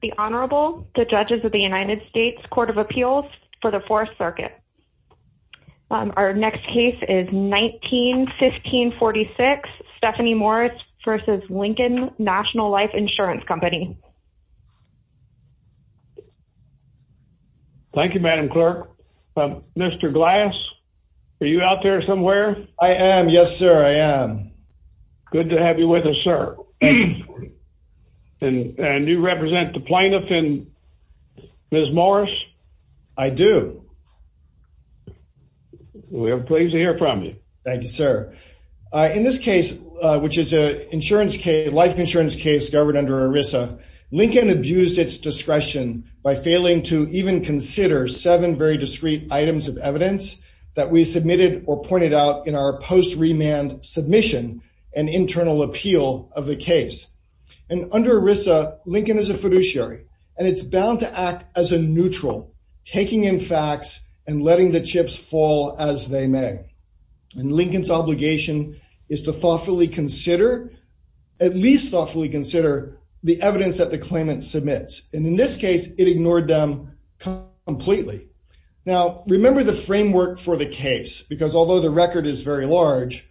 The Honorable, the Judges of the United States Court of Appeals for the Fourth Circuit. Our next case is 19-15-46, Stephanie Morris v. Lincoln National Life Insurance Company. Thank you, Madam Clerk. Mr. Glass, are you out there somewhere? I am, yes sir, I am. Good to have you with us, sir. And you represent the plaintiff in Ms. Morris? I do. We're pleased to hear from you. Thank you, sir. In this case, which is a life insurance case governed under ERISA, Lincoln abused its discretion by failing to even consider seven very discreet items of evidence that we submitted or pointed out in our post-remand submission and internal appeal of the case. And under ERISA, Lincoln is a fiduciary, and it's bound to act as a neutral, taking in facts and letting the chips fall as they may. And Lincoln's obligation is to thoughtfully consider, at least thoughtfully consider, the evidence that the claimant submits. And in this case, it ignored them completely. Now, remember the framework for the case, because although the record is very large,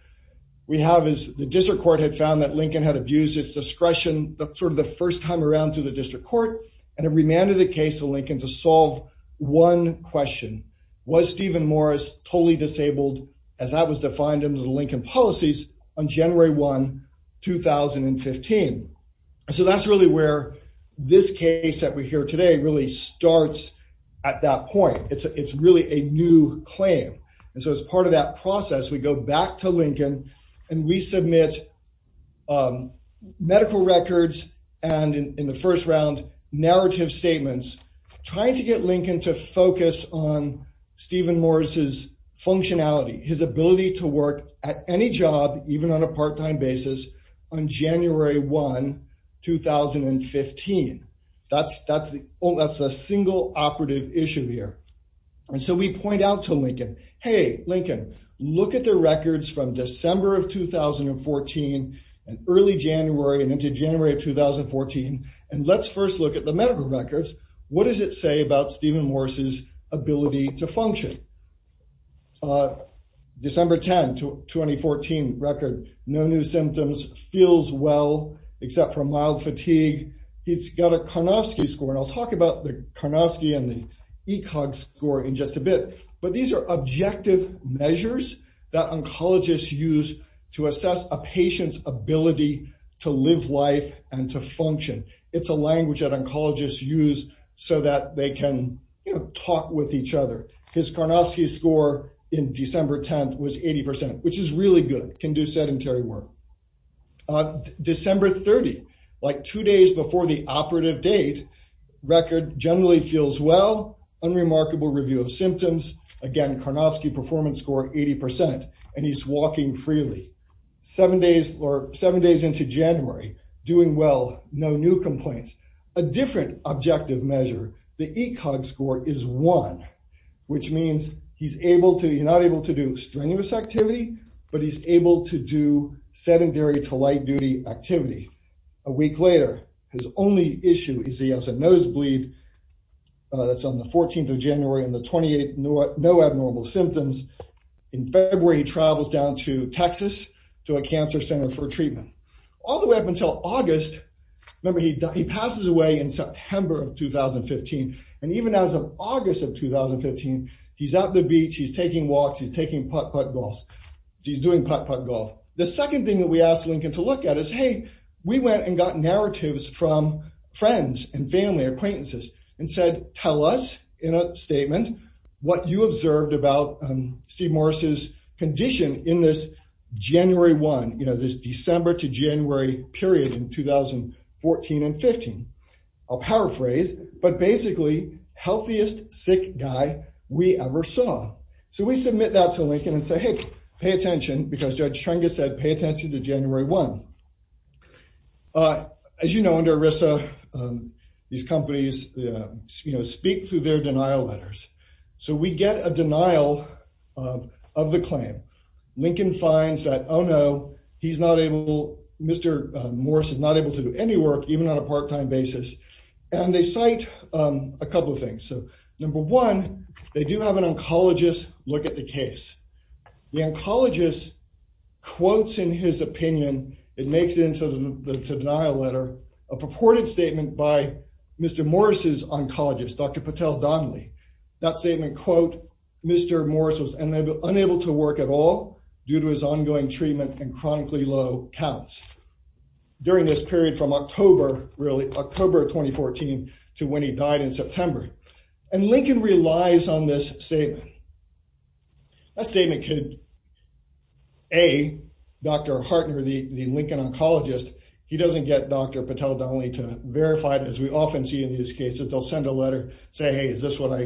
we have is the district court had found that Lincoln had abused its discretion sort of the first time around through the district court, and it remanded the case to Lincoln to solve one question. Was Stephen Morris totally disabled as that was defined in the policies on January 1, 2015? So that's really where this case that we hear today really starts at that point. It's really a new claim. And so as part of that process, we go back to Lincoln and we submit medical records and in the first round, narrative statements, trying to get Lincoln to focus on Stephen Morris's functionality, his ability to work at any job, even on a part-time basis on January 1, 2015. That's a single operative issue here. And so we point out to Lincoln, hey, Lincoln, look at the records from December of 2014 and early January and into January of 2014, and let's first look at the medical records. What does it say about Stephen Morris's ability to function? December 10, 2014 record, no new symptoms, feels well, except for mild fatigue. He's got a Karnofsky score, and I'll talk about the Karnofsky and the ECOG score in just a bit, but these are objective measures that oncologists use to assess a patient's ability to live life and to function. It's a language that oncologists use so that they can talk with each other. His Karnofsky score in December 10 was 80%, which is really good, can do sedentary work. December 30, like two days before the operative date, record generally feels well, unremarkable review of symptoms. Again, Karnofsky performance score 80%, and he's walking freely. Seven days into January, doing well, no new complaints. A different objective measure, the ECOG score is one, which means he's not able to do strenuous activity, but he's able to do sedentary to light duty activity. A week later, his only issue is he has a nosebleed that's on the 14th of January and the 28th, no abnormal symptoms. In February, he travels down to Texas to a cancer center for treatment. All the way up until August, remember he passes away in September of 2015, and even as of August of 2015, he's at the beach, he's taking walks, he's doing putt-putt golf. The second thing that we asked Lincoln to look at is, hey, we went and got narratives from friends and family, acquaintances, and said, tell us in a statement what you observed about Steve Morris's condition in this January 1, you know, this December to January period in 2014 and 15. I'll paraphrase, but basically, healthiest sick guy we ever saw. So we submit that to Lincoln and say, hey, pay attention, because Judge Trengus said, pay attention to January 1. As you know, these companies, you know, speak through their denial letters. So we get a denial of the claim. Lincoln finds that, oh no, he's not able, Mr. Morris is not able to do any work, even on a part-time basis, and they cite a couple of things. So number one, they do have an oncologist look at the case. The oncologist quotes in his opinion, it makes it into the denial letter, a purported statement by Mr. Morris's oncologist, Dr. Patel Donnelly. That statement, quote, Mr. Morris was unable to work at all due to his ongoing treatment and chronically low counts during this period from October, really, October 2014 to when he died in September. And Lincoln relies on this statement. That statement could, A, Dr. Hartner, the Lincoln oncologist, he doesn't get Dr. Patel Donnelly to verify it, as we often see in these cases. They'll send a letter, say, hey, is this what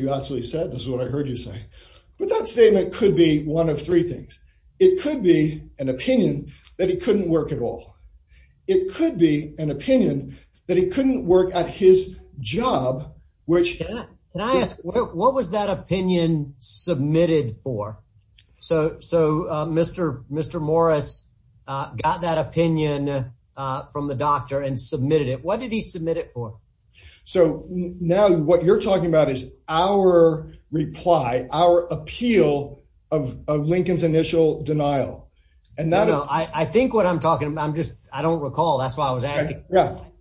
you actually said? This is what I heard you say. But that statement could be one of three things. It could be an opinion that he couldn't work at all. It could be an opinion that he couldn't work at his job, which- Can I ask, what was that opinion submitted for? So Mr. Morris got that opinion from the doctor and submitted it. What did he submit it for? So now what you're talking about is our reply, our appeal of Lincoln's initial denial. No, no, I think what I'm talking about, I'm just, I don't recall. That's why I was asking.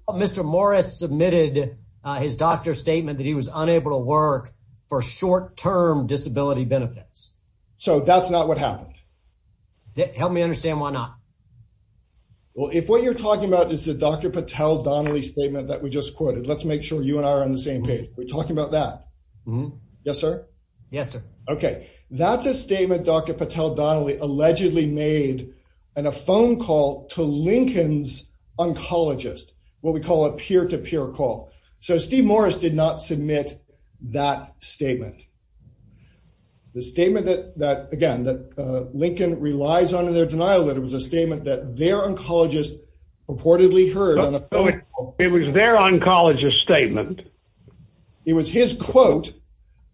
Mr. Morris submitted his doctor's statement that he was unable to work for short-term disability benefits. So that's not what happened? Help me understand why not. Well, if what you're talking about is the Dr. Patel Donnelly statement that we just quoted, let's make sure you and I are on the same page. We're talking about that. Yes, sir? Yes, sir. Okay. That's a statement Dr. Patel Donnelly allegedly made in a phone call to Lincoln's oncologist, what we call a peer-to-peer call. So Steve Morris did not submit that statement. The statement that, again, that Lincoln relies on in their denial letter was a statement that their oncologist purportedly heard on a phone call- It was their oncologist's statement. It was his quote-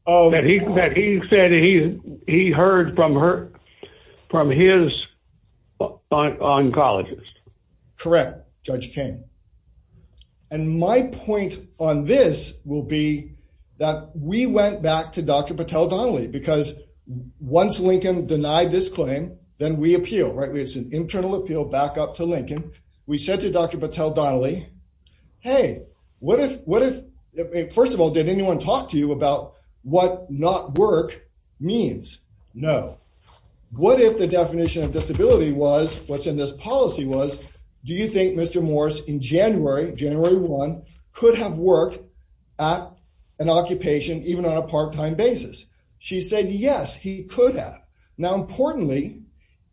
That he said he heard from his oncologist. Correct, Judge King. And my point on this will be that we went back to Dr. Patel Donnelly because once Lincoln denied this claim, then we appeal, right? It's an internal appeal back up to Lincoln. We said to Dr. Patel Donnelly, hey, what if, first of all, did anyone talk to you about what not work means? No. What if the definition of disability was, what's in this policy was, do you think Mr. Morris in January, January 1, could have worked at an occupation even on a part-time basis? She said, yes, he could have. Now importantly,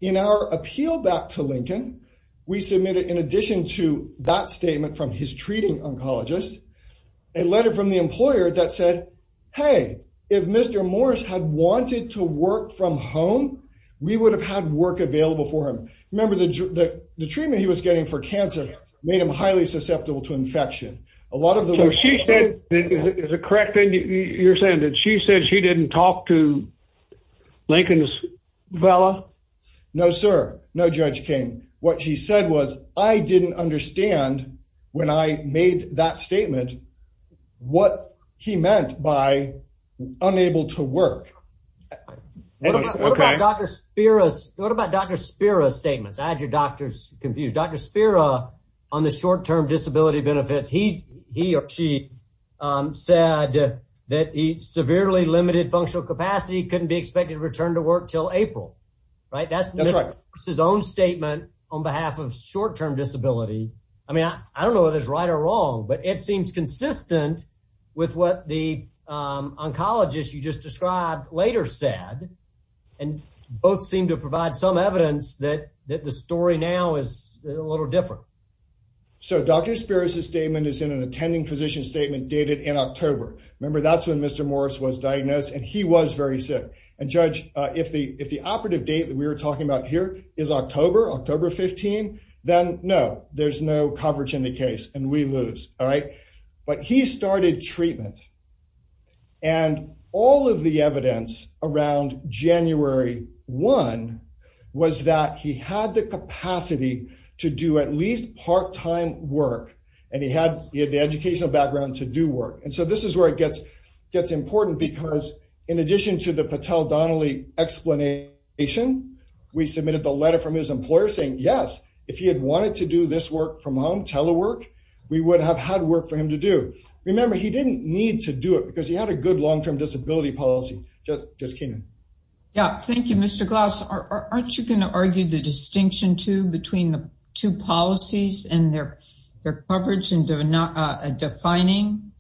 in our appeal back to Lincoln, we submitted, in addition to that statement from his treating oncologist, a letter from the employer that said, hey, if Mr. Morris had wanted to work from home, we would have had work available for him. Remember, the treatment he was getting for cancer made him highly susceptible to infection. A lot of the- So she said, is it correct that you're saying that she said she said was, I didn't understand when I made that statement what he meant by unable to work? What about Dr. Spira's statements? I had your doctors confused. Dr. Spira, on the short-term disability benefits, he or she said that he severely limited functional capacity, couldn't be expected to return to work till April, right? That's his own statement behalf of short-term disability. I mean, I don't know whether it's right or wrong, but it seems consistent with what the oncologist you just described later said. And both seem to provide some evidence that the story now is a little different. So Dr. Spira's statement is in an attending physician statement dated in October. Remember, that's when Mr. Morris was diagnosed and he was very sick. And judge, if the operative date that we were talking about here is October, October 15, then no, there's no coverage in the case and we lose, all right? But he started treatment. And all of the evidence around January 1 was that he had the capacity to do at least part-time work. And he had the educational background to do work. And so this is where it gets important because in addition to the Patel-Donnelly explanation, we submitted the saying, yes, if he had wanted to do this work from home, telework, we would have had work for him to do. Remember, he didn't need to do it because he had a good long-term disability policy. Judge Keenan. Yeah, thank you, Mr. Glass. Aren't you going to argue the distinction too between the two policies and their coverage and defining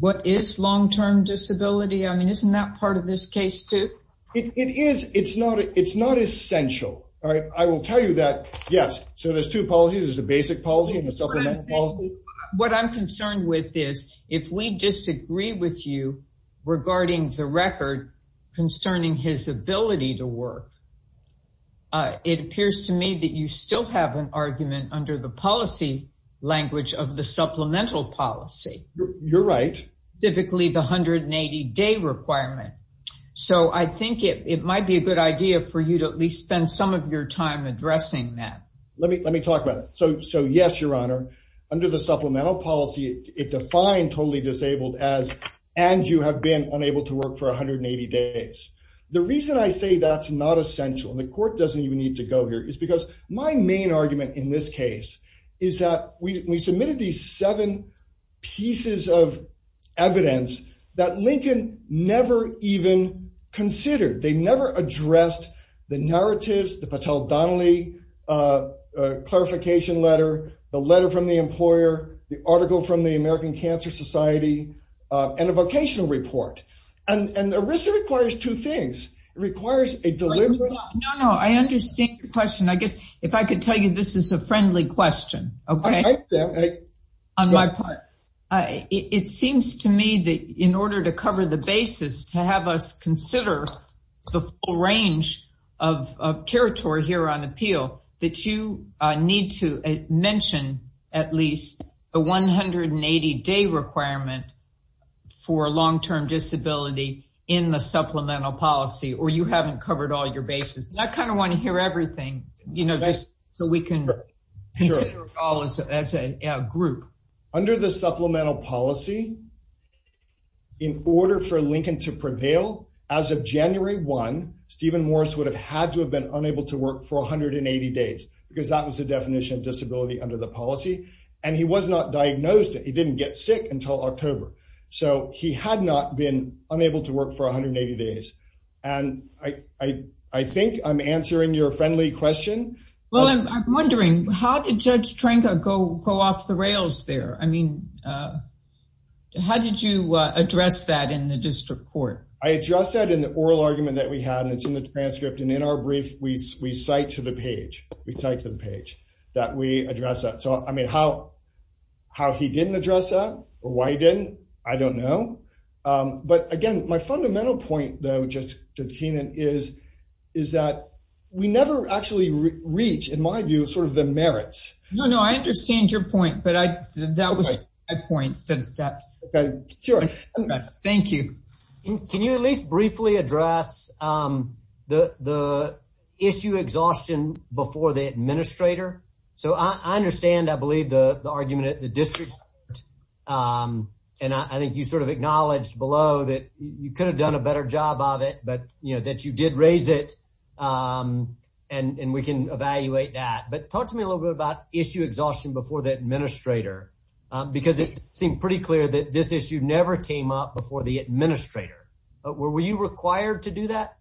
what is long-term disability? I mean, isn't that part of this case too? It is. It's not essential, all right? I will tell you that, yes. So there's two policies. There's a basic policy and a supplemental policy. What I'm concerned with is if we disagree with you regarding the record concerning his ability to work, it appears to me that you still have an argument under the policy language of the So I think it might be a good idea for you to at least spend some of your time addressing that. Let me talk about it. So yes, Your Honor, under the supplemental policy, it defined totally disabled as, and you have been unable to work for 180 days. The reason I say that's not essential and the court doesn't even need to go here is because my main argument in this case is that we submitted these seven pieces of evidence that Lincoln never even considered. They never addressed the narratives, the Patel-Donnelly clarification letter, the letter from the employer, the article from the American Cancer Society, and a vocational report. And ERISA requires two things. It requires a deliberate- No, no. I understand your question. I guess if I could tell you this is a friendly question, okay, on my part. It seems to me that in order to cover the basis, to have us consider the full range of territory here on appeal, that you need to mention at least the 180-day requirement for long-term disability in the supplemental policy, or you haven't covered all your bases. I kind of want to hear everything just so we can consider it all as a group. Under the supplemental policy, in order for Lincoln to prevail, as of January 1, Stephen Morris would have had to have been unable to work for 180 days because that was the definition of disability under the policy. And he was not diagnosed. He didn't get sick until October. So he had not been unable to work for 180 days. And I think I'm answering your friendly question. Well, I'm wondering, how did Judge Trenka go off the rails there? I mean, how did you address that in the district court? I addressed that in the oral argument that we had, and it's in the transcript. And in our brief, we cite to the page, we cite to the page that we addressed that. So I mean, how he didn't address that, or why he didn't, I don't know. But again, my fundamental point, though, Judge Keenan, is that we never actually reach, in my view, sort of the merits. No, no, I understand your point, but that was my point. Okay, sure. Thank you. Can you at least briefly address the issue exhaustion before the administrator? So I understand, I believe, the argument at the district court, and I think you sort of acknowledged below that you could have done a better job of it, but that you did raise it, and we can evaluate that. But talk to me a little bit about issue exhaustion before the administrator, because it seemed pretty clear that this issue never came up before the administrator. Were you required to do that?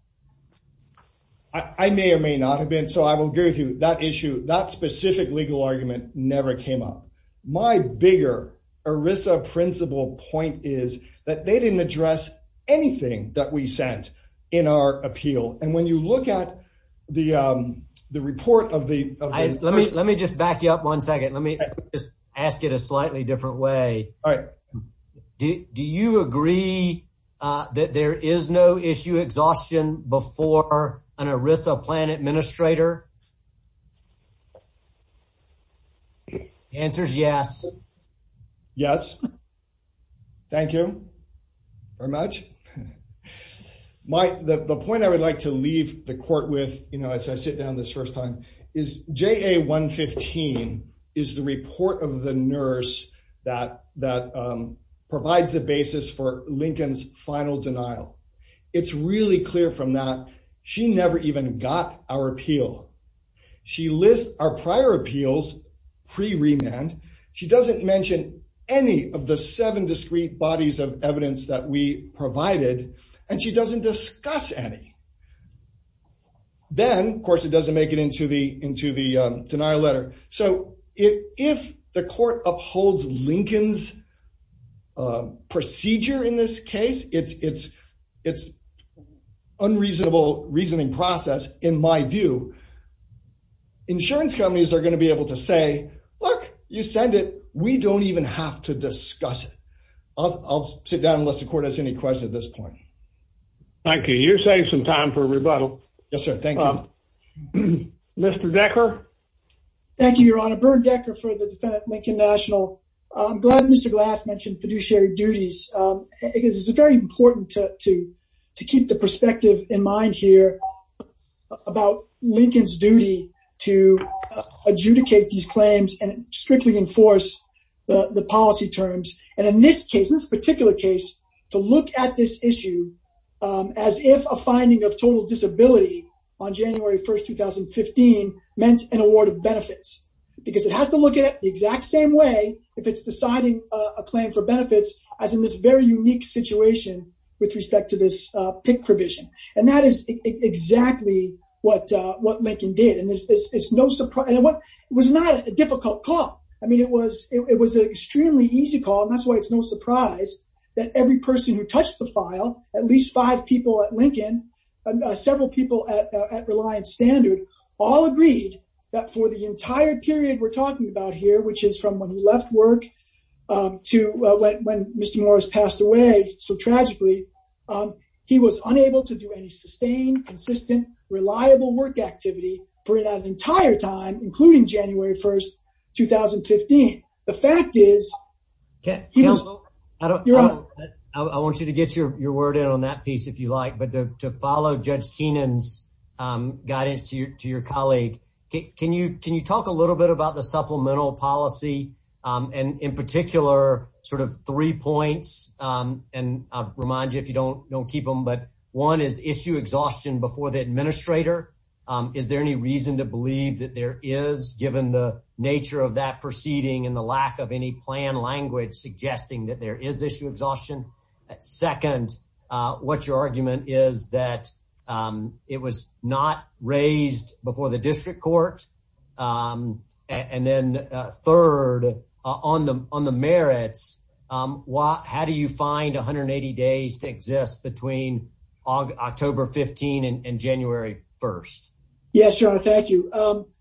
I may or may not have been, so I will agree with you, that issue, that specific legal argument never came up. My bigger ERISA principle point is that they didn't address anything that we sent in our appeal. And when you look at the report of the- Let me just back you up one second. Let me just ask it a slightly different way. All right. Do you agree that there is no issue exhaustion before an ERISA plan administrator? Answer's yes. Yes. Thank you very much. The point I would like to leave the court with, you know, as I sit down this first time, is JA-115 is the report of the nurse that provides the basis for Lincoln's final denial. It's really clear from that she never even got our appeal. She lists our prior appeals pre-remand. She doesn't mention any of the seven discrete bodies of evidence that we provided, and she doesn't discuss any. Then, of course, it doesn't make it into the denial letter. So if the court upholds Lincoln's procedure in this case, its unreasonable reasoning process, in my view, insurance companies are going to be able to say, look, you send it. We don't even have to discuss it. I'll sit down unless the court has any questions at this point. Thank you. You're saving some time for rebuttal. Yes, sir. Thank you. Mr. Decker? Thank you, Your Honor. Bernd Decker for the defendant, Lincoln National. I'm glad Mr. Glass mentioned fiduciary duties. It is very important to keep the perspective in mind here about Lincoln's duty to adjudicate these claims and strictly enforce the policy terms, and in this case, in this particular case, to look at this issue as if a finding of total disability on January 1, 2015, meant an award of benefits because it has to look at it the exact same way if it's deciding a claim for benefits as in this very unique situation with respect to this PIC provision. That is exactly what Lincoln did. It was not a difficult call. It was an extremely easy call, and that's why it's no surprise that every person who touched the file, at least five people at Lincoln, several people at Reliance Standard, all agreed that for the entire period we're talking about here, which is from when he left work to when Mr. Morris passed away so tragically, he was unable to do any sustained, consistent, reliable work activity for that entire time, including January 1, 2015. The fact is, I want you to get your word in on that piece if you like, but to follow Judge Keenan's guidance to your colleague, can you talk a little bit about the supplemental policy and in particular sort of three points, and I'll remind you if you don't keep them, but one is issue exhaustion before the administrator. Is there any reason to believe that there is, given the nature of that proceeding and the lack of any plan language suggesting that there is issue exhaustion? Second, what's your argument is that it was not raised before the district court? And then third, on the merits, how do you find 180 days to exist between October 15 and January 1? Yes, Your Honor, thank you.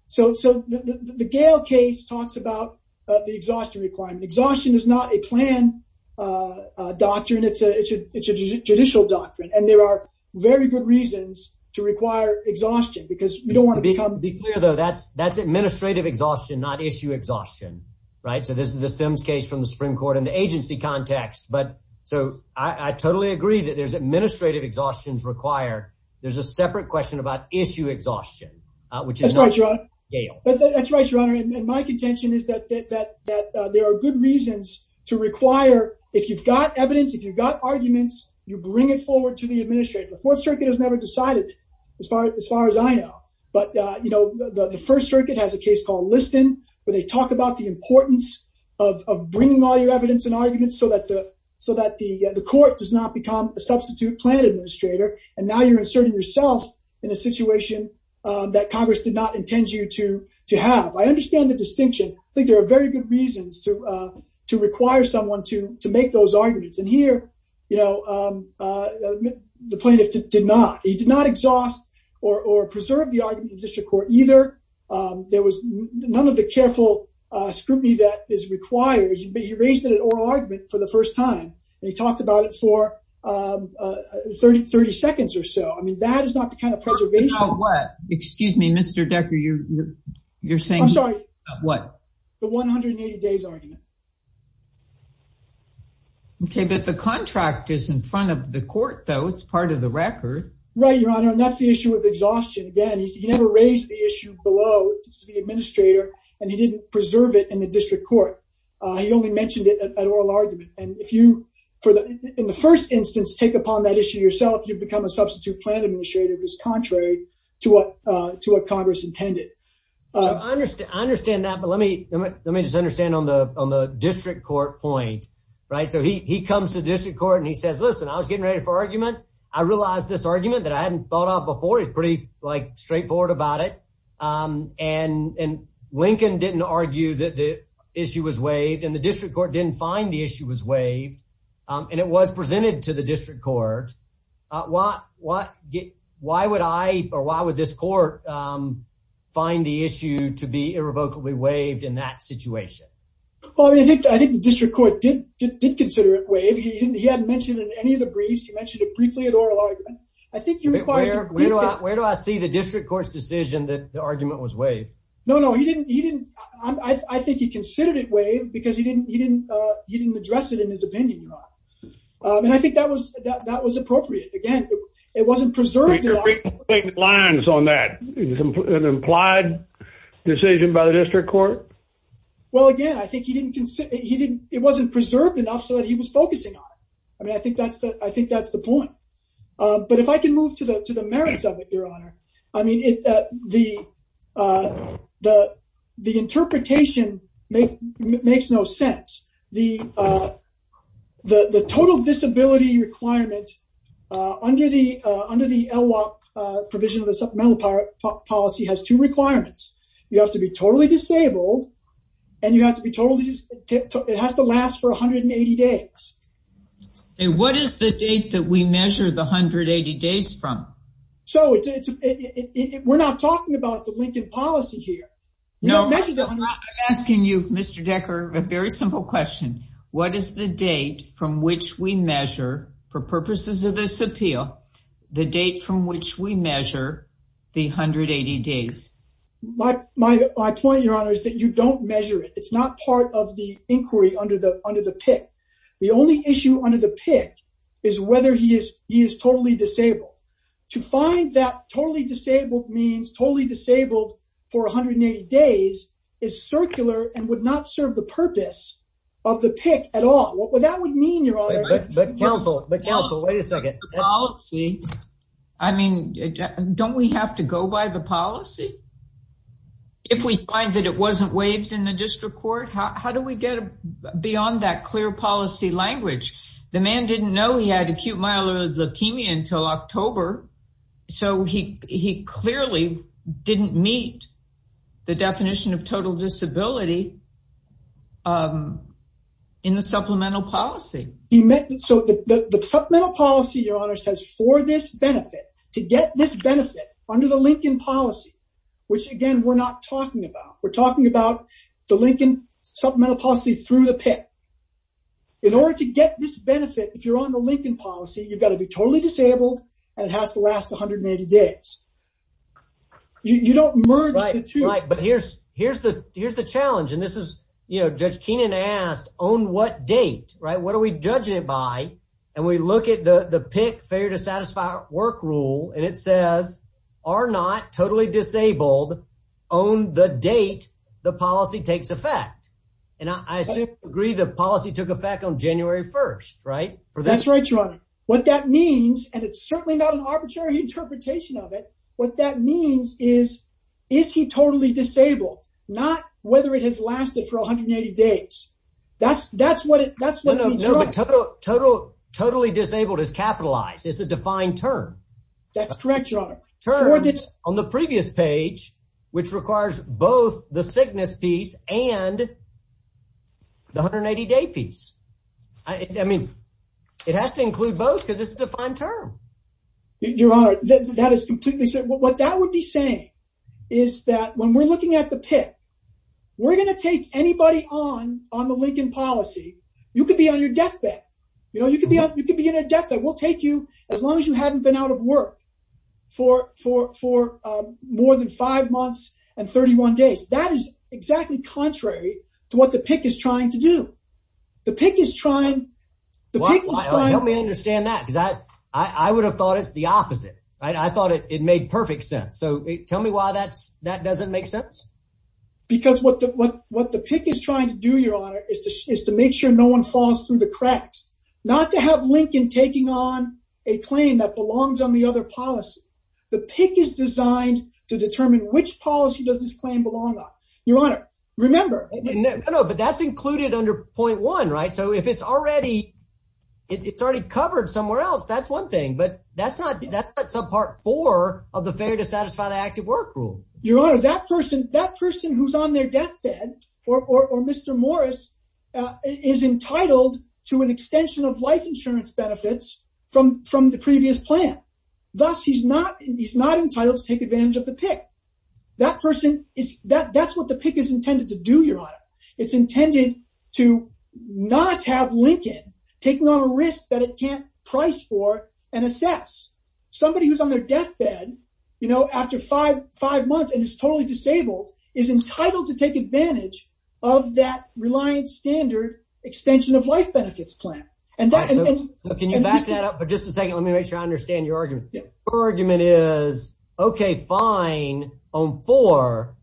So the Gale case talks about the exhaustion requirement. Exhaustion is not a plan doctrine, it's a judicial doctrine, and there are very good reasons to require exhaustion because you don't want to become clear though that's administrative exhaustion, not issue exhaustion, right? So this is the Sims case from the Supreme Court in the agency context, but so I totally agree that there's administrative exhaustions required. There's a separate question about issue exhaustion, which is not Gale. That's right, Your Honor, and my contention is that there are good reasons to require, if you've got evidence, if you've got arguments, you bring it forward to the First Circuit. It has a case called Liston where they talk about the importance of bringing all your evidence and arguments so that the court does not become a substitute plan administrator, and now you're inserting yourself in a situation that Congress did not intend you to have. I understand the distinction. I think there are very good reasons to require someone to make those arguments, and here, you know, the plaintiff did not. He did not exhaust or preserve the district court either. There was none of the careful scrutiny that is required, but he raised it at oral argument for the first time, and he talked about it for 30 seconds or so. I mean, that is not the kind of preservation. Excuse me, Mr. Decker, you're saying. I'm sorry. What? The 180 days argument. Okay, but the contract is in front of the court though. It's part of the record. Right, Your Honor, and that's the issue with exhaustion. Again, he never raised the issue below the administrator, and he didn't preserve it in the district court. He only mentioned it at oral argument, and if you, in the first instance, take upon that issue yourself, you become a substitute plan administrator. It was contrary to what Congress intended. I understand that, but let me just understand on the district court point, right? So he comes to district court, and he says, listen, I was getting ready for argument. I realized this argument that I hadn't thought of before is pretty straightforward about it, and Lincoln didn't argue that the issue was waived, and the district court didn't find the issue was waived, and it was presented to the district court. Why would this court find the issue to be irrevocably waived in that situation? Well, I think the district court did consider it waived. He hadn't mentioned it in any of the briefs. He mentioned it briefly at oral argument. I think he requires... Where do I see the district court's decision that the argument was waived? No, no, he didn't. I think he considered it waived because he didn't address it in his opinion, Your Honor, and I think that was appropriate. Again, it wasn't preserved... But you're breaking lines on that. It was an implied decision by the district court? Well, again, I think he didn't consider... It wasn't preserved enough so that he was focusing on it. I mean, I think that's the point, but if I can move to the merits of it, Your Honor, I mean, the interpretation makes no sense. The total disability requirement under the LWOP provision of the supplemental policy has two requirements. You have to be and you have to be told it has to last for 180 days. What is the date that we measure the 180 days from? We're not talking about the Lincoln policy here. No, I'm asking you, Mr. Decker, a very simple question. What is the date from which we measure, for purposes of this appeal, the date from which we measure the 180 days? My point, Your Honor, is that you don't measure it. It's not part of the inquiry under the PIC. The only issue under the PIC is whether he is totally disabled. To find that totally disabled means totally disabled for 180 days is circular and would not serve the purpose of the PIC at all. What that would mean, Your Honor... But counsel, but counsel, wait a minute. Don't we have to go by the policy? If we find that it wasn't waived in the district court, how do we get beyond that clear policy language? The man didn't know he had acute myeloid leukemia until October, so he clearly didn't meet the definition of total disability in the supplemental policy. So the supplemental policy, Your Honor, says for this benefit, to get this benefit under the Lincoln policy, which, again, we're not talking about. We're talking about the Lincoln supplemental policy through the PIC. In order to get this benefit, if you're on the Lincoln policy, you've got to be totally disabled and it has to last 180 days. You don't merge the two. Right, but here's the challenge, and this is, you know, Judge Keenan asked, on what date, right? What are we judging it by? And we look at the PIC, failure to satisfy work rule, and it says, are not totally disabled on the date the policy takes effect. And I assume you agree the policy took effect on January 1st, right? That's right, Your Honor. What that means, and it's certainly not an arbitrary interpretation of it, what that means is, is he totally disabled? Not whether it has lasted for 180 days. That's what it means. No, total, totally disabled is capitalized. It's a defined term. That's correct, Your Honor. Terms on the previous page, which requires both the sickness piece and the 180-day piece. I mean, it has to include both because it's a defined term. Your Honor, that is completely certain. What that would be saying is that when we're looking at the PIC, we're going to take anybody on, on the Lincoln policy. You could be on your deathbed. You know, you could be on, you could be in a deathbed. We'll take you as long as you haven't been out of work for, for, for more than five months and 31 days. That is exactly contrary to what the PIC is trying to do. The PIC is trying, the PIC is trying... Well, help me understand that because I, I would have thought it's the opposite, right? I thought it made perfect sense. So tell me why that doesn't make sense. Because what the, what, what the PIC is trying to do, Your Honor, is to, is to make sure no one falls through the cracks. Not to have Lincoln taking on a claim that belongs on the other policy. The PIC is designed to determine which policy does this claim belong on. Your Honor, remember... No, no, but that's included under point one, right? So if it's already, it's already covered somewhere else, that's one thing, but that's not, that's part four of the failure to satisfy the active work rule. Your Honor, that person, that person who's on their deathbed, or, or, or Mr. Morris, uh, is entitled to an extension of life insurance benefits from, from the previous plan. Thus, he's not, he's not entitled to take advantage of the PIC. That person is, that, that's what the PIC is intended to do, Your Honor. It's intended to not have Lincoln taking on a risk that it can't price for and assess. Somebody who's on their deathbed, you know, after five, five months and is totally disabled, is entitled to take advantage of that reliant standard extension of life benefits plan. And that... Can you back that up for just a second? Let me make sure I understand your argument. Her argument is, okay, fine, on four,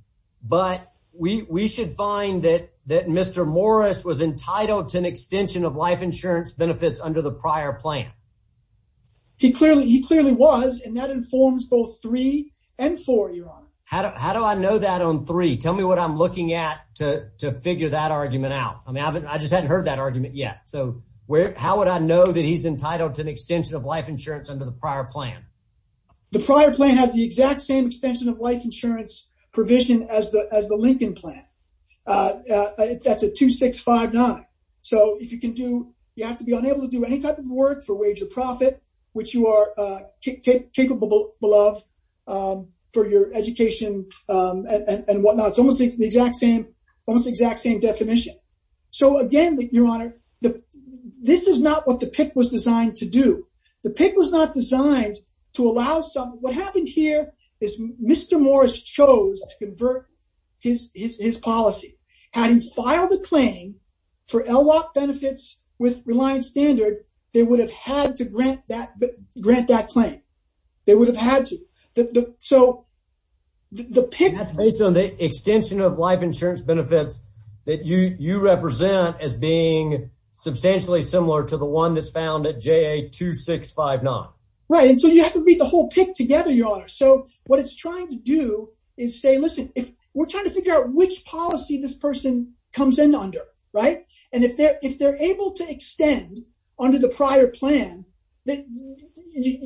but we, we should find that, that Mr. Morris was entitled to an extension of life insurance benefits under the prior plan. He clearly, he clearly was, and that informs both three and four, Your Honor. How do, how do I know that on three? Tell me what I'm looking at to, to figure that argument out. I mean, I haven't, I just hadn't heard that argument yet. So where, how would I know that he's entitled to an extension of life insurance under the prior plan? The prior plan has the exact same extension of life insurance provision as the, as the Lincoln plan. That's a two, six, five, nine. So if you can do, you have to be unable to do any type of work for wage or profit, which you are capable of for your education and whatnot. It's almost the exact same, almost exact same definition. So again, Your Honor, this is not what the PIC was designed to allow some, what happened here is Mr. Morris chose to convert his, his, his policy. Had he filed a claim for LWOP benefits with Reliance Standard, they would have had to grant that, grant that claim. They would have had to. So the PIC- That's based on the extension of life insurance benefits that you, you represent as being substantially similar to the one that's found at JA-2659. Right. And so you have to meet the whole PIC together, Your Honor. So what it's trying to do is say, listen, if we're trying to figure out which policy this person comes in under, right? And if they're, if they're able to extend under the prior plan, that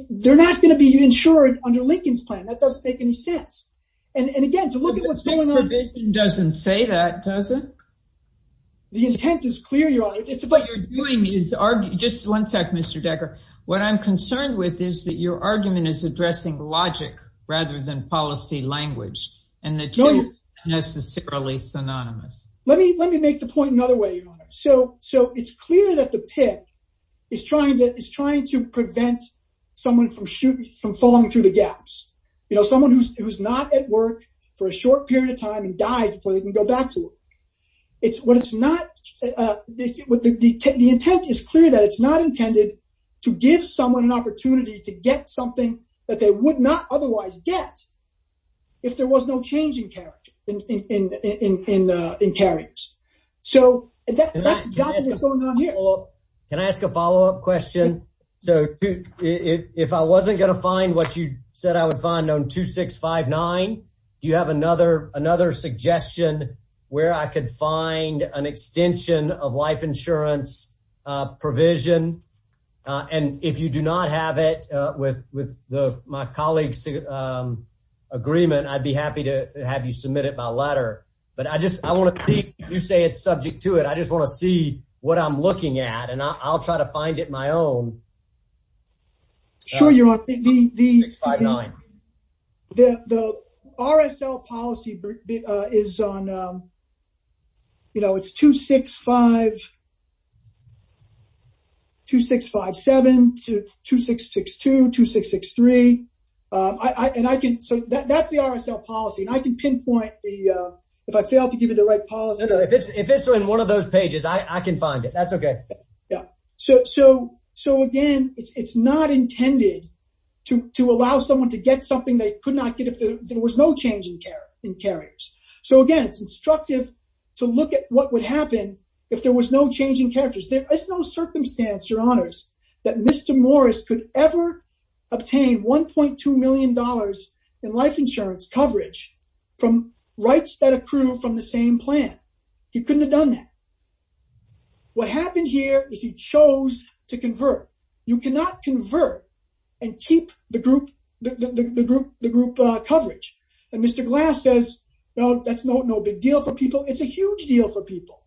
they're not going to be insured under Lincoln's plan. That doesn't make any sense. And again, to look at what's going on- The PIC provision doesn't say that, does it? The intent is clear, Your Honor. It's what you're Just one sec, Mr. Decker. What I'm concerned with is that your argument is addressing logic rather than policy language and that's not necessarily synonymous. Let me, let me make the point another way, Your Honor. So, so it's clear that the PIC is trying to, is trying to prevent someone from shooting, from falling through the gaps. You know, someone who's, who's not at work for a short period of time and dies before they can go back to work. It's what it's not, the intent is clear that it's not intended to give someone an opportunity to get something that they would not otherwise get if there was no change in character, in, in, in, in, in carriers. So that's exactly what's going on here. Can I ask a follow-up question? So if I wasn't going to find what you said I would find on 2659, do you have another, another suggestion where I could find an extension of life insurance provision? And if you do not have it with, with the, my colleague's agreement, I'd be happy to have you submit it by letter. But I just, I want to think, you say it's subject to it. I just want to see what I'm looking at and I'll try to find it my own. Sure, you're on the, the, the RSL policy is on, you know, it's 265, 2657, to 2662, 2663. I, I, and I can, so that, that's the RSL policy and I can pinpoint the, if I fail to give you the right policy. No, no, if it's, if it's in one of those pages, I can find it. That's okay. Yeah. So, so, so again, it's, it's not intended to, to allow someone to get something they could not get if there was no change in care, in carriers. So again, it's instructive to look at what would happen if there was no change in characters. There is no circumstance, your honors, that Mr. Morris could ever obtain $1.2 million in life insurance coverage from rights that accrue from the same plan. He couldn't have done that. What happened here is he chose to convert. You cannot convert and keep the group, the, the, the group, the group coverage. And Mr. Glass says, no, that's no, no big deal for people. It's a huge deal for people.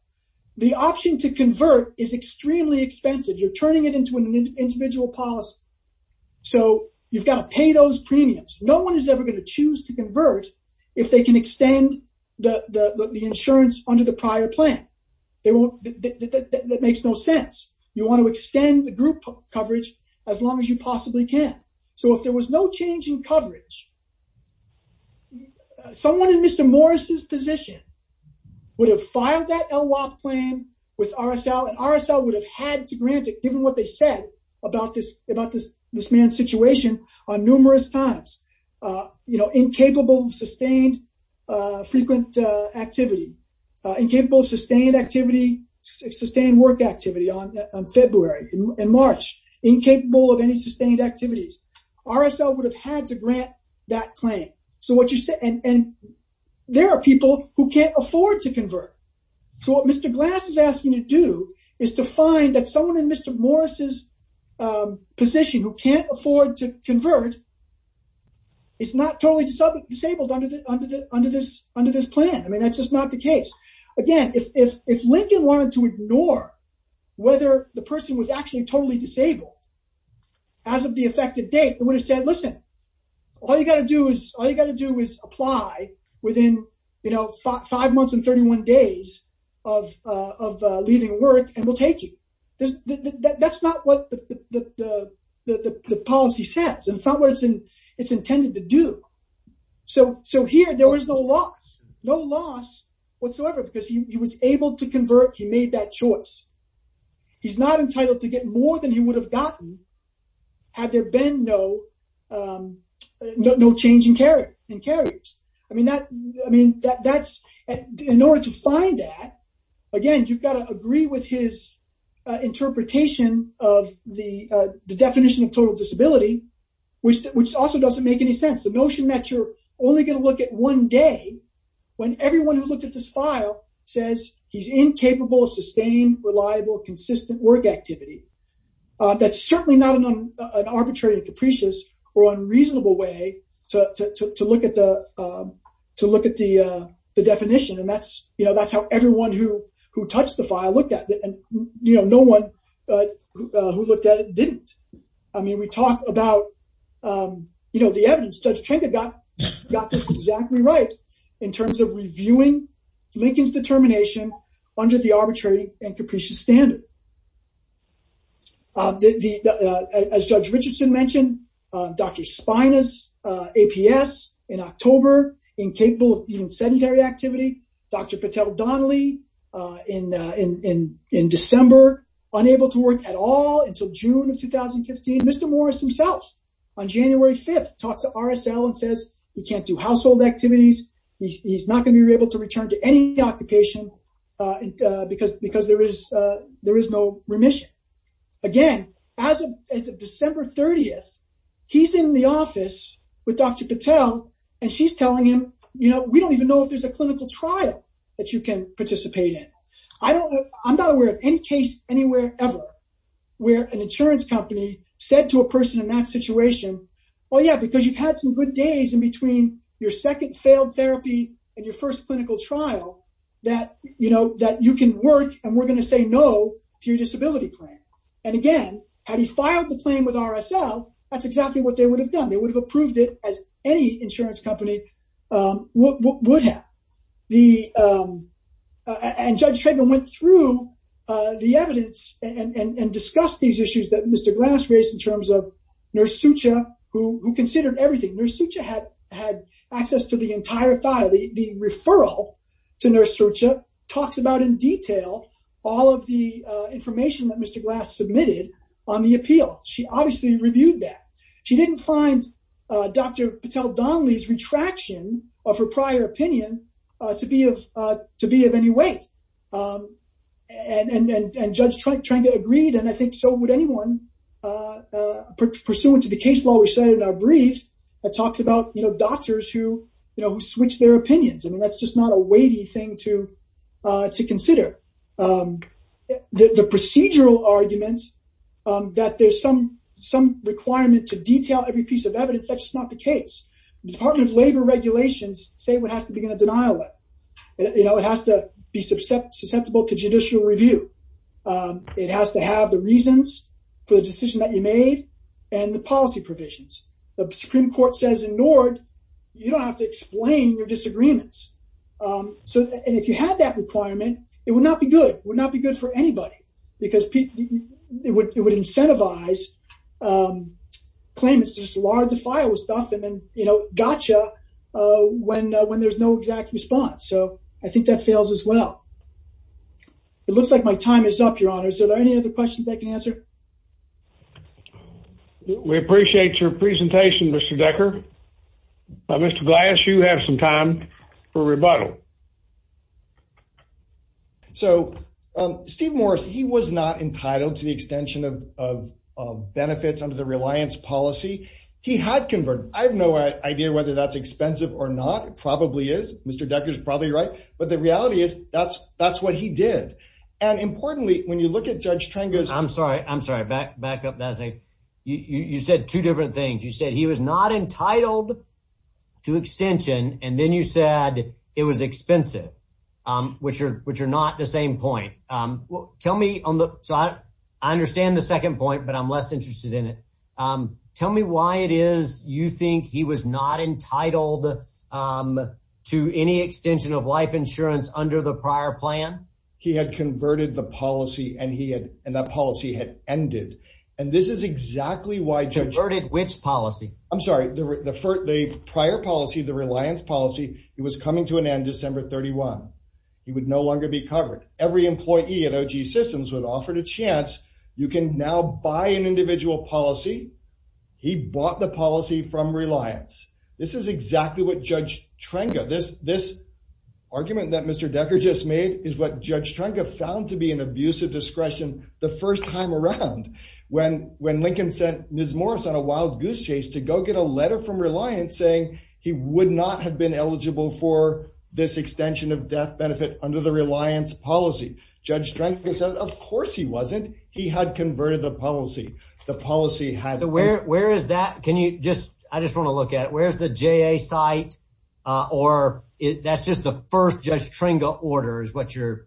The option to convert is extremely expensive. You're turning it into an individual policy. So you've got to pay those premiums. No one is ever going to choose to convert if they can extend the, the, the insurance under the prior plan. They won't, that makes no sense. You want to extend the group coverage as long as you possibly can. So if there was no change in coverage, someone in Mr. Morris's position would have filed that LWOC plan with RSL and RSL would have had to grant it, given what they said about this, about this, this man's situation on numerous times, you know, incapable of sustained frequent activity, incapable of sustained activity, sustained work activity on February and March, incapable of any sustained activities. RSL would have had to grant that claim. So what you said, and there are people who can't afford to convert. So what Mr. Glass is asking you to do is to find that someone in Mr. Morris's position who can't afford to convert is not totally disabled under the, under the, under this, under this plan. I mean, that's just not the case. Again, if, if, if Lincoln wanted to ignore whether the person was actually totally disabled as of the effective date, it would have said, listen, all you got to do is, all you got to do is apply within, you know, five months and 31 days of, of leaving work and we'll take you. That's not what the, the, the, the, the policy says, and it's not what it's intended to do. So, so here there was no loss, no loss whatsoever, because he was able to convert, he made that choice. He's not entitled to get more than he would have gotten had there been no, no change in carrier, in carriers. I mean, that, I mean, that's, in order to find that, again, you've got to agree with his interpretation of the, the definition of total disability, which, which also doesn't make any sense. The notion that you're only going to look at one day when everyone who looked at this file says he's incapable of sustained, reliable, consistent work activity. That's certainly not an, an arbitrary and capricious or unreasonable way to, to, to look at the, to look at the, the definition. And that's, you know, that's how everyone who, who touched the file looked at it. And, you know, no one who looked at it didn't. I mean, we talk about, you know, the evidence. Judge Trenka got, got this exactly right in terms of reviewing Lincoln's determination under the arbitrary and capricious standard. The, the, as Judge Richardson mentioned, Dr. Spinas APS in October, incapable of even sedentary activity. Dr. Patel Donnelly in, in, in December, unable to work at all until June of 2015. Mr. Morris himself on January 5th talks to RSL and says he can't do household activities. He's not going to be able to return to any occupation in, because, because there is, there is no remission. Again, as of, as of December 30th, he's in the office with Dr. Patel and she's telling him, you know, we don't even know if there's a clinical trial that you can participate in. I don't know, I'm not aware of any case anywhere ever where an insurance company said to a person in that situation, well, yeah, because you've had some good days in between your second failed therapy and your first clinical trial that, you know, that you can work and we're going to say no to your disability plan. And again, had he filed the claim with RSL, that's exactly what they would have done. They would have approved it as any insurance company would have. The, and Judge Treadmill went through the evidence and, and, and discussed these issues that Mr. Glass raised in terms of Nurse Sucha who, who considered everything. Nurse Sucha had, had access to the entire file, the referral to Nurse Sucha talks about in detail all of the information that Mr. Glass submitted on the appeal. She obviously reviewed that. She didn't find Dr. Patel-Donnelly's retraction of her prior opinion to be of, to be of any weight. And, and, and Judge Trent, Trent agreed, and I think so would anyone pursuant to the case law we said in our brief that talks about, you know, doctors who, you know, who switch their opinions. I mean, that's just not a weighty thing to, to consider. The procedural argument that there's some, some requirement to detail every piece of evidence, that's just not the case. The Department of Labor regulations say what has to begin a denial letter. You know, it has to be susceptible to judicial review. It has to have the reasons for the decision that you made and the policy provisions. The Supreme Court says in you don't have to explain your disagreements. So, and if you had that requirement, it would not be good. It would not be good for anybody because people, it would, it would incentivize claimants to just lard the file with stuff and then, you know, gotcha when, when there's no exact response. So I think that fails as well. It looks like my time is up, Your Honor. Is there any other questions I can answer? We appreciate your presentation, Mr. Decker. Mr. Glass, you have some time for rebuttal. So Steve Morris, he was not entitled to the extension of, of, of benefits under the reliance policy. He had converted. I have no idea whether that's expensive or not. It probably is. Mr. Decker's probably right. But the reality is that's, that's what he did. And importantly, when you look at Judge Trengas- I'm sorry, I'm sorry. Back, back up, Nassif. You, you said two different things. You said he was not entitled to extension. And then you said it was expensive, which are, which are not the same point. Tell me on the, so I, I understand the second point, but I'm less interested in it. Tell me why it is you think he was not entitled to any extension of life insurance under the prior plan? He had converted the policy and he had, and that policy had ended. And this is exactly why Judge- Converted which policy? I'm sorry. The, the prior policy, the reliance policy, it was coming to an end December 31. He would no longer be covered. Every employee at OG Systems would offer the chance, you can now buy an individual policy. He bought the policy from reliance. This is exactly what this, this argument that Mr. Decker just made is what Judge Trenga found to be an abusive discretion the first time around when, when Lincoln sent Ms. Morris on a wild goose chase to go get a letter from reliance saying he would not have been eligible for this extension of death benefit under the reliance policy. Judge Trenga said, of course he wasn't. He had converted the policy. The policy had- So where, where is that? Can you just, I just want to look at it. Where's the JA site? Or that's just the first Judge Trenga order is what you're-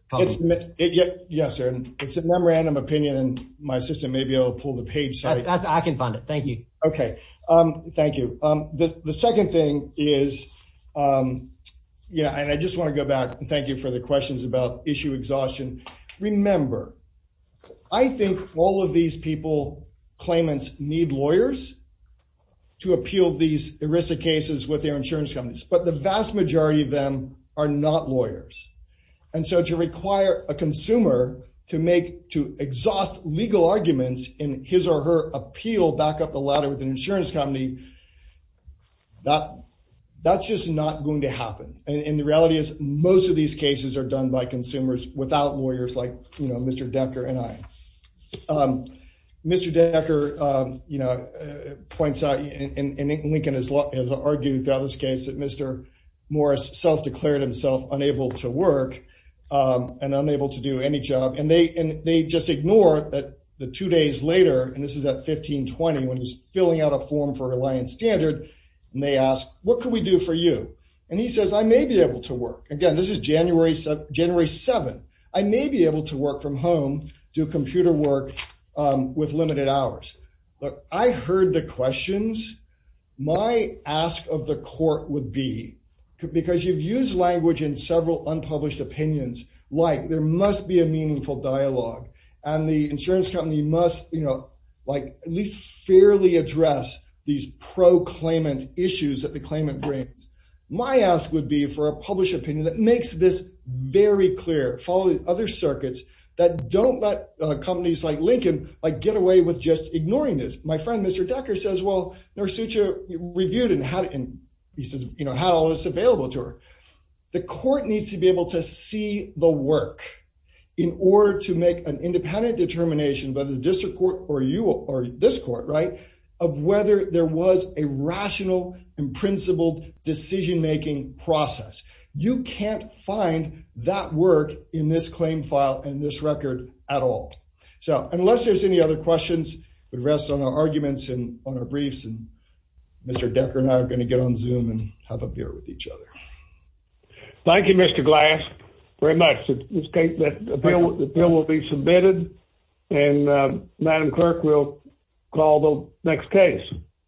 Yes, sir. It's a memorandum opinion and my assistant may be able to pull the page. I can find it. Thank you. Okay. Thank you. The second thing is, yeah, and I just want to go back and thank you for the questions about issue exhaustion. Remember, I think all of these people, claimants need lawyers to appeal these ERISA cases with their insurance companies, but the vast majority of them are not lawyers. And so to require a consumer to make, to exhaust legal arguments in his or her appeal back up the ladder with an insurance company, that, that's just not going to happen. And the reality is most of these cases are done by consumers without lawyers like, you know, points out, and Lincoln has argued about this case, that Mr. Morris self-declared himself unable to work and unable to do any job. And they, and they just ignore that the two days later, and this is at 1520, when he's filling out a form for reliance standard, and they ask, what can we do for you? And he says, I may be able to work. Again, this is January, January 7th. I may be able to work from home, do computer work with limited hours. But I heard the questions. My ask of the court would be, because you've used language in several unpublished opinions, like there must be a meaningful dialogue and the insurance company must, you know, like at least fairly address these pro-claimant issues that the claimant brings. My ask would be for a published opinion that makes this very clear, following other circuits that don't let companies like Lincoln, like get away with just ignoring this. My friend, Mr. Decker says, well, Narsucha reviewed and had, and he says, you know, had all this available to her. The court needs to be able to see the work in order to make an independent determination by the district court or you or this court, right? Of whether there was a rational and principled decision-making process. You can't find that work in this claim file and this record at all. So unless there's any other questions, we'd rest on our arguments and on our briefs and Mr. Decker and I are going to get on Zoom and have a beer with each other. Thank you, Mr. Glass, very much. The bill will be submitted and Madam Clerk will call the next case.